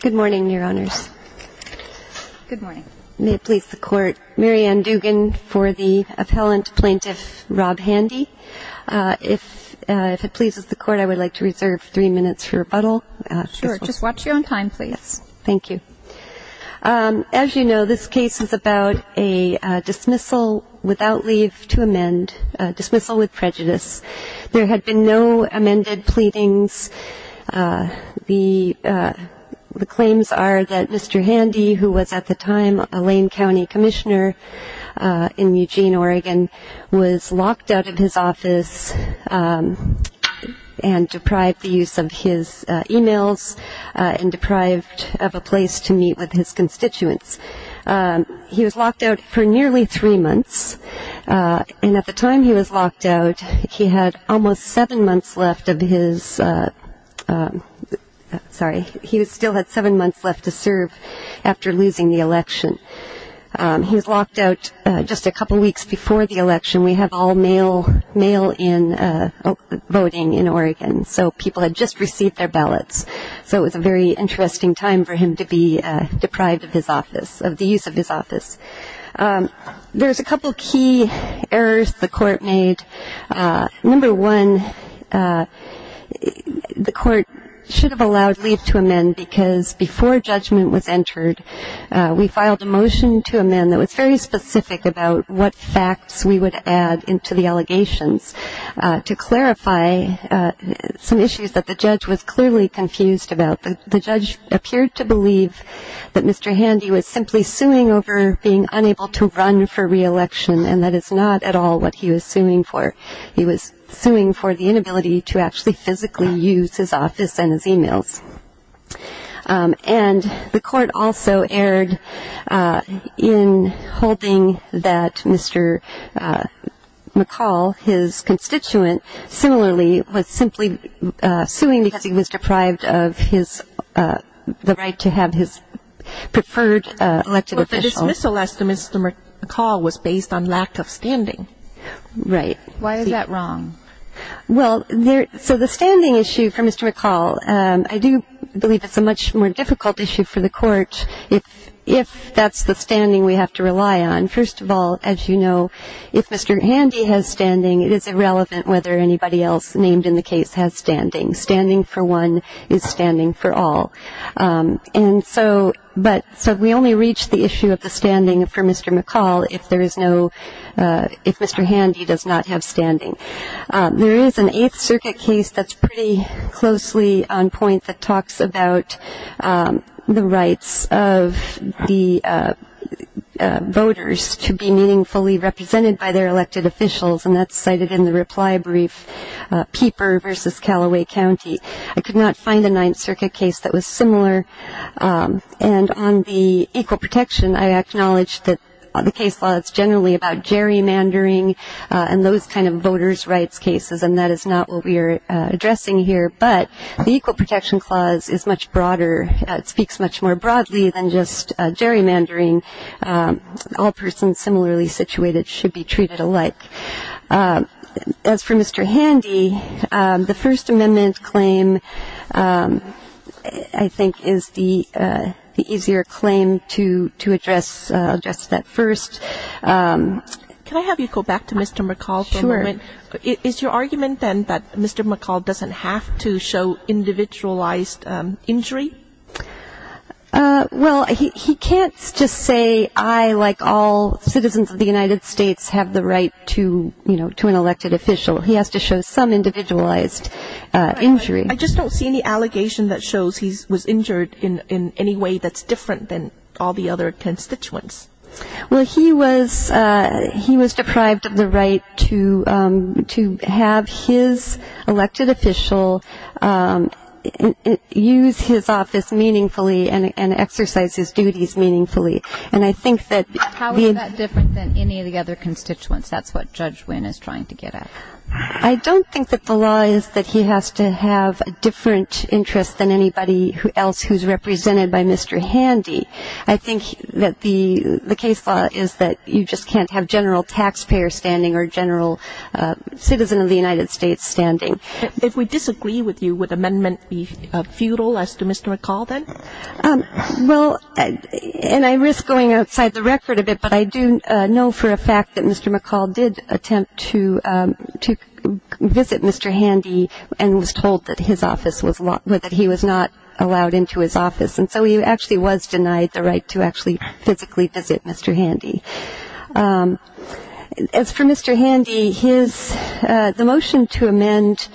Good morning, Your Honors. Good morning. May it please the Court, Mary Ann Dugan for the appellant plaintiff Rob Handy. If it pleases the Court, I would like to reserve three minutes for rebuttal. Sure, just watch your own time, please. Thank you. As you know, this case is about a dismissal without leave to amend, a dismissal with prejudice. There had been no amended pleadings. The claims are that Mr. Handy, who was at the time a Lane County commissioner in Eugene, Oregon, was locked out of his office and deprived the use of his e-mails and deprived of a place to meet with his constituents. He was locked out for seven months left of his, sorry, he still had seven months left to serve after losing the election. He was locked out just a couple weeks before the election. We have all mail in voting in Oregon, so people had just received their ballots. So it was a very interesting time for him to be deprived of his office, of the use of his office. There's a couple key errors the Court made. Number one, the Court should have allowed leave to amend because before judgment was entered, we filed a motion to amend that was very specific about what facts we would add into the allegations to clarify some issues that the judge was clearly confused about. The judge appeared to believe that Mr. Handy was simply suing over being and that is not at all what he was suing for. He was suing for the inability to actually physically use his office and his e-mails. And the Court also erred in holding that Mr. McCall, his constituent, similarly was simply suing because he was deprived of his, the right to have his preferred elected official. Ms. Celeste, Mr. McCall was based on lack of standing. Right. Why is that wrong? Well, so the standing issue for Mr. McCall, I do believe it's a much more difficult issue for the Court if that's the standing we have to rely on. First of all, as you know, if Mr. Handy has standing, it is irrelevant whether anybody else named in the case has standing. Standing for one is standing for all. And so, but, so we only reach the issue of the standing for Mr. McCall if there is no, if Mr. Handy does not have standing. There is an Eighth Circuit case that's pretty closely on point that talks about the rights of the voters to be meaningfully represented by their elected officials and that's cited in the I could not find a Ninth Circuit case that was similar. And on the Equal Protection, I acknowledge that the case law is generally about gerrymandering and those kind of voters' rights cases and that is not what we are addressing here. But the Equal Protection Clause is much broader. It speaks much more broadly than just gerrymandering. All persons similarly situated should be treated alike. As for Mr. Handy, the First Amendment claim, I think, is the easier claim to address. I'll address that first. Can I have you go back to Mr. McCall for a moment? Sure. Is your argument then that Mr. McCall doesn't have to show individualized injury? Well, he can't just say, I, like all citizens of the United States, have the right to, you know, to an elected official. He has to show some individualized injury. I just don't see any allegation that shows he was injured in any way that's different than all the other constituents. Well, he was, he was deprived of the right to, to have his elected official use his office meaningfully and exercise his duties meaningfully. And I think that How is that different than any of the other constituents? That's what Judge Wynn is trying to get at. I don't think that the law is that he has to have a different interest than anybody else who's represented by Mr. Handy. I think that the, the case law is that you just can't have general taxpayer standing or general citizen of the United States standing. If we disagree with you, would amendment be futile as to Mr. McCall then? Well, and I risk going outside the record a bit, but I do know for a fact that Mr. McCall did attempt to, to visit Mr. Handy and was told that his office was, that he was not allowed into his office. And so he actually was denied the right to actually physically visit Mr. Handy. As for Mr. Handy, his, the motion to amend,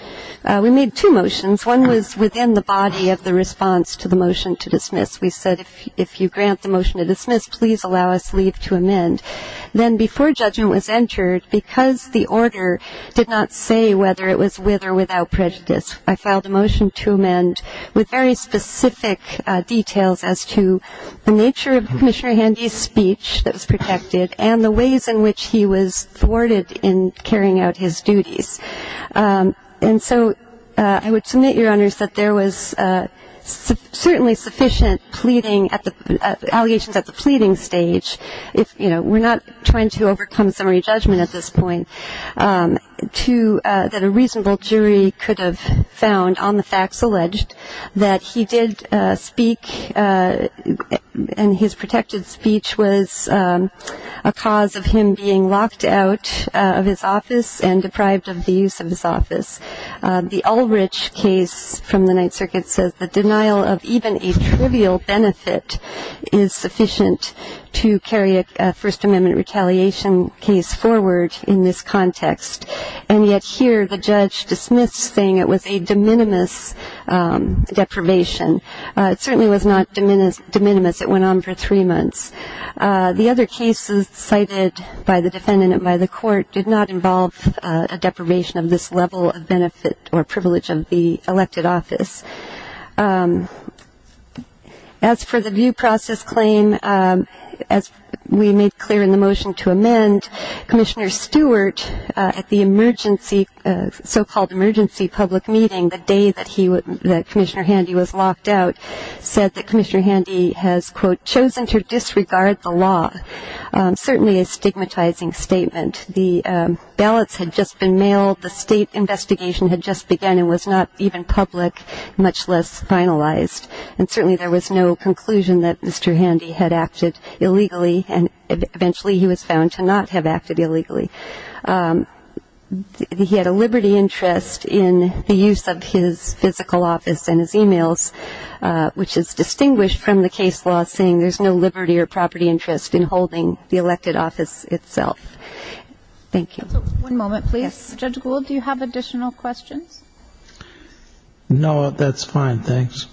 we made two motions. One was within the body of the response to the motion to dismiss. We said if, if you grant the motion to dismiss, please allow us leave to amend. Then before judgment was entered, because the order did not say whether it was with or without prejudice, I filed a motion to amend with very specific details as to the nature of Commissioner Handy's speech that was protected and the ways in which he was thwarted in carrying out his duties. And so I would submit, Your Honors, that there was certainly sufficient pleading at the, allegations at the pleading stage, if, you know, we're not trying to overcome summary judgment at this point, to, that a reasonable jury could have found on the facts alleged that he did speak and his protected speech was a cause of him being locked out of his office and deprived of the use of his office. The Ulrich case from the Ninth Circuit says the denial of even a trivial benefit is sufficient to carry a First Amendment retaliation case forward in this context. And yet here the judge dismissed saying it was a de minimis deprivation. It certainly was not de minimis. It went on for three months. The other cases cited by the defendant and by the court did not involve a deprivation of this level of benefit or privilege of the elected office. As for the view process claim, as we made clear in the motion to amend, Commissioner Stewart, at the emergency, so-called emergency public meeting the day that he, that Commissioner Handy was locked out, said that Commissioner Handy has, quote, chosen to disregard the state investigation had just begun and was not even public, much less finalized. And certainly there was no conclusion that Mr. Handy had acted illegally, and eventually he was found to not have acted illegally. He had a liberty interest in the use of his physical office and his e-mails, which is distinguished from the case law saying there's no liberty or property interest in holding the elected office itself. Thank you. One moment, please. Judge Gould, do you have additional questions? No, that's fine. Thanks.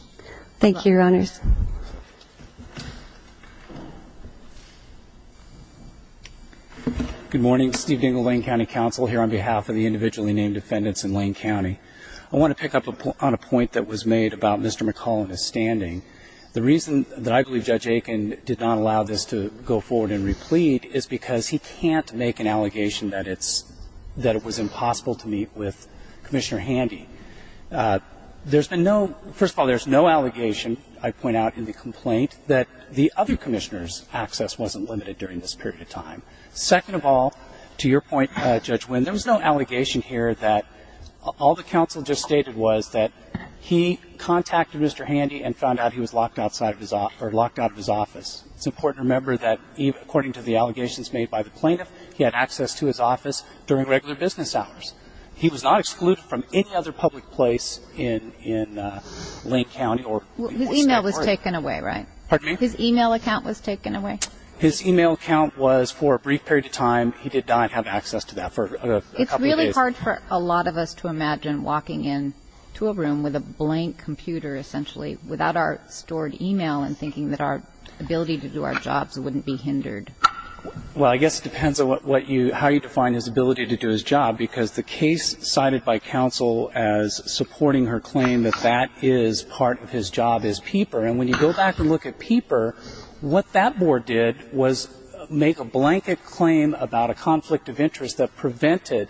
Thank you, Your Honors. Good morning. Steve Dingell, Lane County Council, here on behalf of the individually named defendants in Lane County. I want to pick up on a point that was made about Mr. McCollum's standing. The reason that I believe Judge Aiken did not allow this to go forward and replete is because he can't make an allegation that it's – that it was impossible to meet with Commissioner Handy. There's been no – first of all, there's no allegation, I point out in the complaint, that the other commissioner's access wasn't limited during this period of time. Second of all, to your point, Judge Winn, there was no allegation here that – all the counsel just stated was that he contacted Mr. Handy and found out he was locked outside of his – or locked out of his office. It's important to remember that according to the allegations made by the plaintiff, he had access to his office during regular business hours. He was not excluded from any other public place in Lane County or – His email was taken away, right? Pardon me? His email account was taken away? His email account was for a brief period of time. He did not have access to that for a couple of days. It's really hard for a lot of us to imagine walking into a room with a blank computer, essentially, without our stored email and thinking that our ability to do our jobs wouldn't be hindered. Well, I guess it depends on what you – how you define his ability to do his job, because the case cited by counsel as supporting her claim that that is part of his job is Peeper. And when you go back and look at Peeper, what that board did was make a blanket claim about a conflict of interest that prevented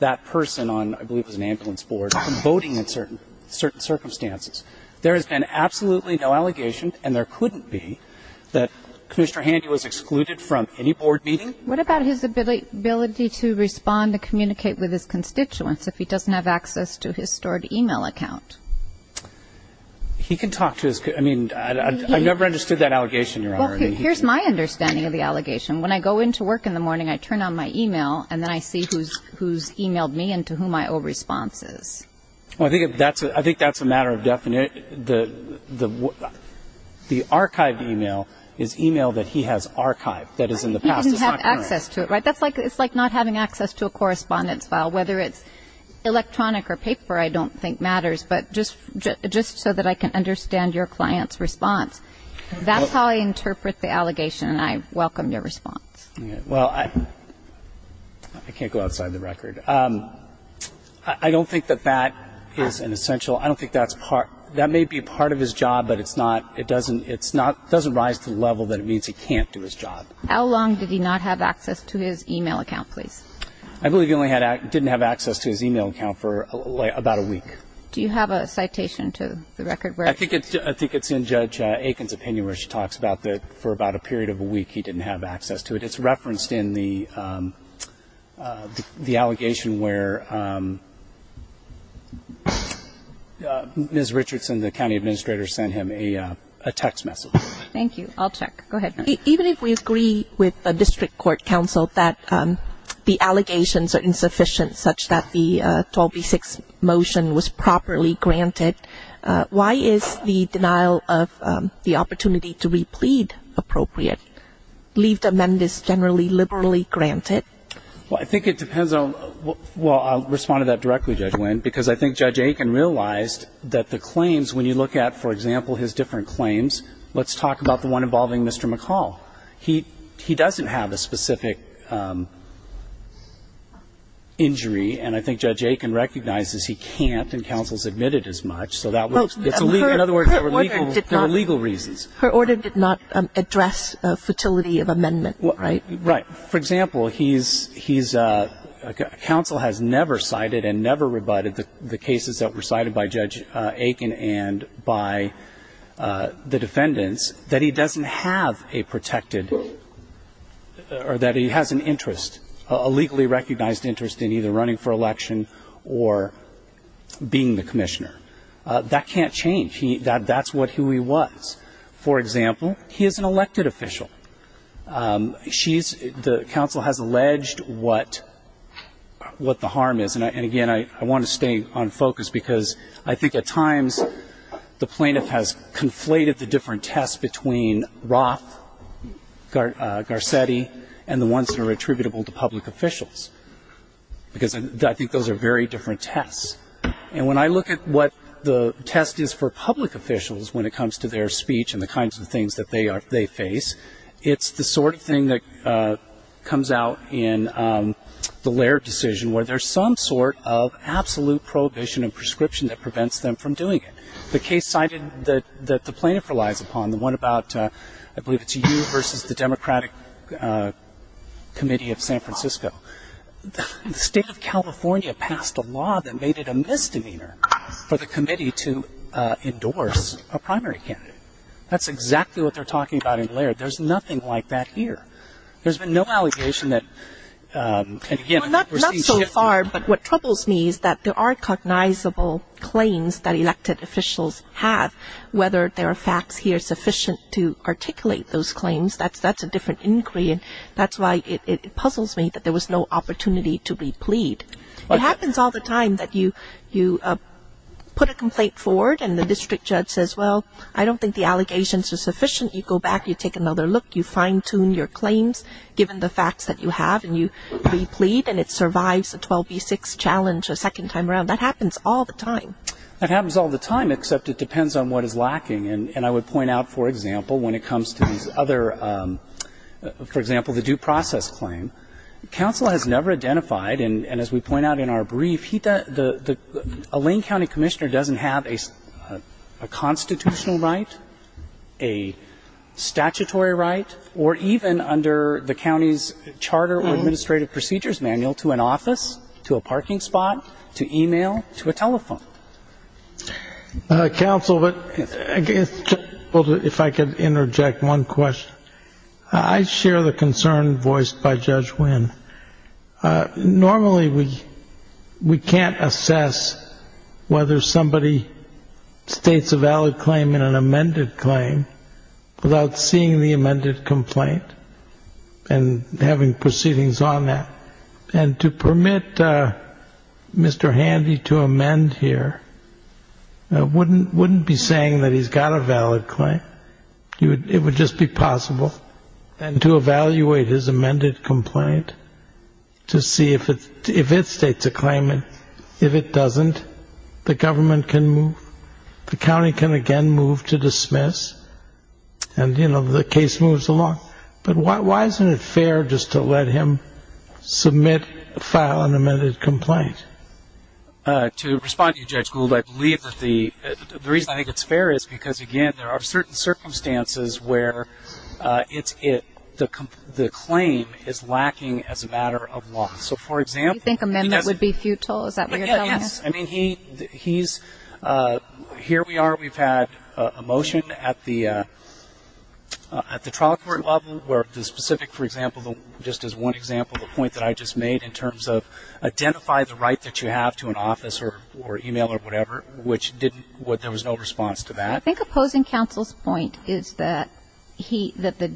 that person on, I believe it was an ambulance board, from voting in certain circumstances. There has been absolutely no allegation, and there couldn't be, that Commissioner Handy was excluded from any board meeting. What about his ability to respond to communicate with his constituents if he doesn't have access to his stored email account? He can talk to his – I mean, I never understood that allegation, Your Honor. Well, here's my understanding of the allegation. When I go into work in the morning, I turn on my email, and then I see who's emailed me and to whom I owe responses. Well, I think that's a matter of – the archived email is email that he has archived, that is in the past. He doesn't have access to it, right? That's like not having access to a correspondence file, whether it's electronic or paper I don't think matters, but just so that I can understand your client's response. That's how I interpret the allegation, and I welcome your response. Well, I can't go outside the record. I don't think that that is an essential – I don't think that's part – that may be part of his job, but it's not – it doesn't rise to the level that it means he can't do his job. How long did he not have access to his email account, please? I believe he only had – didn't have access to his email account for about a week. Do you have a citation to the record where – I think it's in Judge Aiken's opinion where she talks about that for about a period of a week he didn't have access to it. It's referenced in the allegation where Ms. Richardson, the county administrator, sent him a text message. Thank you. I'll check. Go ahead. Even if we agree with the district court counsel that the allegations are insufficient such that the 12b-6 motion was properly granted, why is the denial of the opportunity to replead appropriate? Leave the amend is generally liberally granted? Well, I think it depends on – well, I'll respond to that directly, Judge Winn, because I think Judge Aiken realized that the claims, when you look at, for example, his different claims – let's talk about the one involving Mr. McCall. He doesn't have a specific injury, and I think Judge Aiken recognizes he can't, I mean, he's not going to ask for a protection. Well, but her order did not address the fertility of amendment, right? Right. For example, he's – counsel has never cited and never rebutted the cases that were cited by Judge Aiken and by the defendants that he doesn't have a protected – or that he has an interest, a legally recognized interest in either running for election or being the commissioner. That can't change. That's what he was. For example, he is an elected official. She's – the counsel has alleged what the harm is, and again, I want to stay on focus because I think at times the plaintiff has conflated the different tests between Roth, Garcetti, and the ones that are attributable to public officials, because I think those are very different tests. And when I look at what the test is for public officials when it comes to their speech and the kinds of things that they face, it's the sort of thing that comes out in the Laird decision where there's some sort of absolute prohibition and prescription that prevents them from doing it. The case cited that the plaintiff relies upon, the one about – I believe it's you versus the Democratic Committee of San Francisco. The State of California passed a law that made it a misdemeanor for the committee to endorse a primary candidate. That's exactly what they're talking about in Laird. There's nothing like that here. There's been no allegation that – and again, we're seeing shift. But what troubles me is that there are cognizable claims that elected officials have. Whether there are facts here sufficient to articulate those claims, that's a different inquiry, and that's why it puzzles me that there was no opportunity to replead. It happens all the time that you put a complaint forward and the district judge says, well, I don't think the allegations are sufficient. You go back, you take another look, you fine-tune your claims given the facts that you have, and you replead and it survives a 12B6 challenge a second time around. That happens all the time. That happens all the time, except it depends on what is lacking. And I would point out, for example, when it comes to these other – for example, the due process claim, counsel has never identified, and as we point out in our brief, a Lane County commissioner doesn't have a constitutional right, a statutory right, or even under the county's charter or administrative procedures manual to an office, to a parking spot, to e-mail, to a telephone. Counsel, if I could interject one question. I share the concern voiced by Judge Wynn. Normally we can't assess whether somebody states a valid claim in an amended claim without seeing the amended complaint and having proceedings on that. And to permit Mr. Handy to amend here wouldn't be saying that he's got a valid claim. It would just be possible. And to evaluate his amended complaint to see if it states a claim, if it doesn't, the government can move, the county can again move to dismiss, and, you know, the case moves along. But why isn't it fair just to let him submit, file an amended complaint? To respond to you, Judge Gould, I believe that the reason I think it's fair is because, again, there are certain circumstances where the claim is lacking as a matter of law. So, for example, he doesn't Do you think amendment would be futile? Is that what you're telling us? Yes. I mean, he's, here we are. We've had a motion at the trial court level where the specific, for example, just as one example, the point that I just made in terms of identify the right that you have to an office or e-mail or whatever, which didn't, there was no response to that. I think opposing counsel's point is that the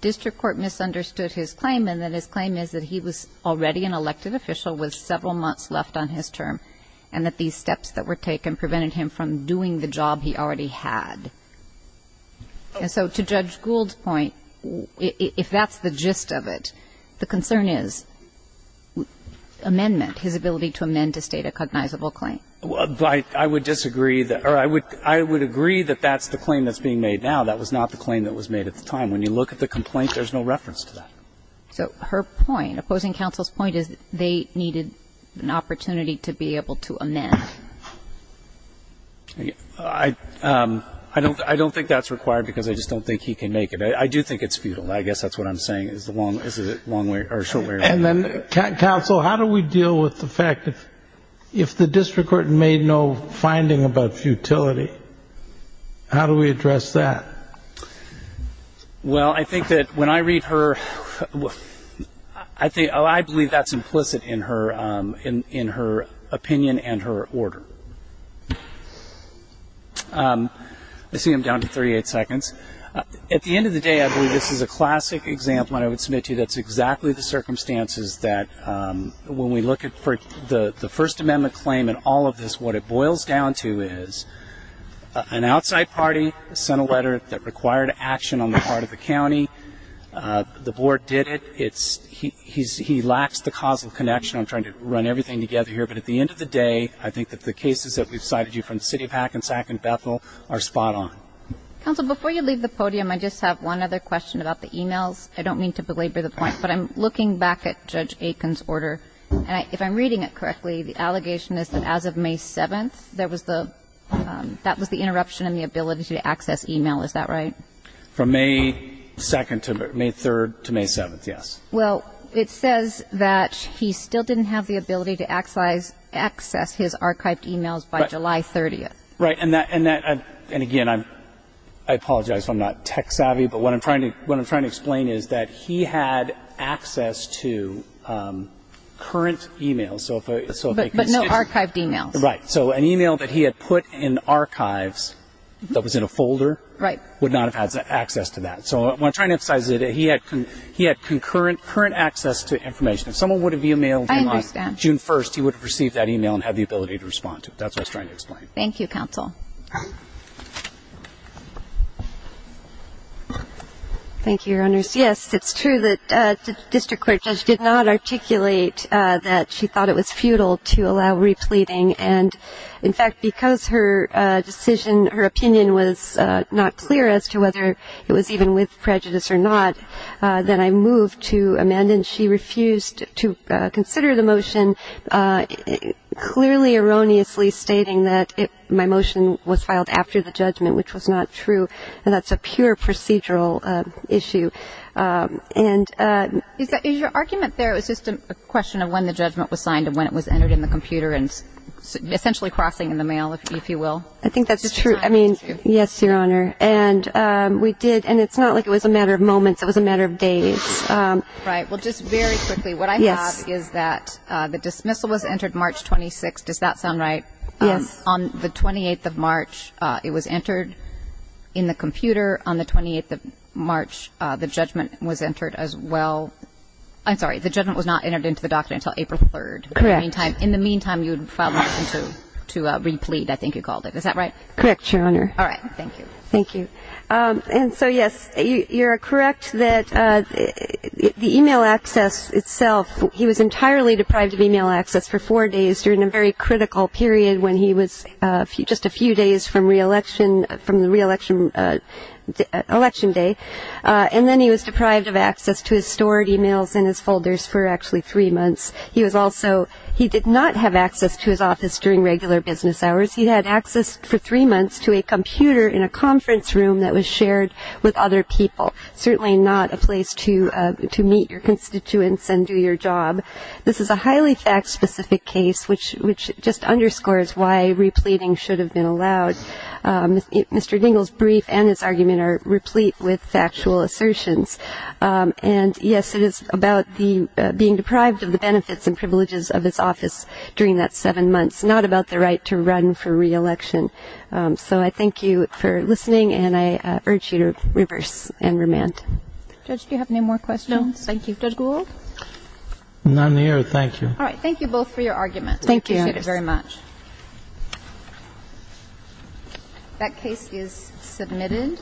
district court misunderstood his claim and that his claim is that he was already an elected official with several months left on his term and that these steps that were taken prevented him from doing the job he already had. And so to Judge Gould's point, if that's the gist of it, the concern is amendment, his ability to amend to state a cognizable claim. I would disagree, or I would agree that that's the claim that's being made now. That was not the claim that was made at the time. When you look at the complaint, there's no reference to that. So her point, opposing counsel's point is they needed an opportunity to be able to amend. I don't think that's required because I just don't think he can make it. I do think it's futile. I guess that's what I'm saying is the long way or short way around. And then, counsel, how do we deal with the fact that if the district court made no finding about futility, how do we address that? Well, I think that when I read her, I believe that's implicit in her opinion and her order. I see I'm down to 38 seconds. At the end of the day, I believe this is a classic example I would submit to you. That's exactly the circumstances that when we look at the First Amendment claim and all of this, what it boils down to is an outside party sent a letter that required action on the part of the county. The board did it. He lacks the causal connection. I'm trying to run everything together here. But at the end of the day, I think that the cases that we've cited you from the city of Hackensack and Bethel are spot on. Counsel, before you leave the podium, I just have one other question about the e-mails. I don't mean to belabor the point, but I'm looking back at Judge Aiken's order. And if I'm reading it correctly, the allegation is that as of May 7th, there was the that was the interruption in the ability to access e-mail. Is that right? From May 2nd to May 3rd to May 7th, yes. Well, it says that he still didn't have the ability to access his archived e-mails by July 30th. Right. And again, I apologize if I'm not tech savvy. But what I'm trying to explain is that he had access to current e-mails. But no archived e-mails. Right. So an e-mail that he had put in archives that was in a folder would not have had access to that. So I'm trying to emphasize that he had concurrent access to information. If someone would have e-mailed him on June 1st, he would have received that e-mail and had the ability to respond to it. That's what I was trying to explain. Thank you, counsel. Thank you, Your Honors. Yes, it's true that the district court judge did not articulate that she thought it was futile to allow repleting. And, in fact, because her decision, her opinion was not clear as to whether it was even with prejudice or not, then I moved to amend, and she refused to consider the motion, clearly erroneously stating that my motion was filed after the judgment, which was not true. And that's a pure procedural issue. Is your argument there, it was just a question of when the judgment was signed and when it was entered in the computer and essentially crossing in the mail, if you will? I think that's true. I mean, yes, Your Honor. And we did, and it's not like it was a matter of moments, it was a matter of days. Right. Well, just very quickly, what I have is that the dismissal was entered March 26th. Does that sound right? Yes. On the 28th of March, it was entered in the computer. On the 28th of March, the judgment was entered as well. I'm sorry, the judgment was not entered into the document until April 3rd. Correct. In the meantime, you would file a motion to replete, I think you called it. Is that right? Correct, Your Honor. All right. Thank you. Thank you. And so, yes, you're correct that the e-mail access itself, he was entirely deprived of e-mail access for four days during a very critical period when he was just a few days from re-election, from the re-election day. And then he was deprived of access to his stored e-mails in his folders for actually three months. He was also, he did not have access to his office during regular business hours. He had access for three months to a computer in a conference room that was shared with other people, certainly not a place to meet your constituents and do your job. This is a highly fact-specific case, which just underscores why repleting should have been allowed. Mr. Dingell's brief and his argument are replete with factual assertions. And, yes, it is about being deprived of the benefits and privileges of his office during that seven months, but it's not about the right to run for re-election. So I thank you for listening, and I urge you to reverse and remand. Judge, do you have any more questions? No. Thank you. Judge Gould? None here. Thank you. All right. Thank you both for your arguments. Thank you. We appreciate it very much. That case is submitted.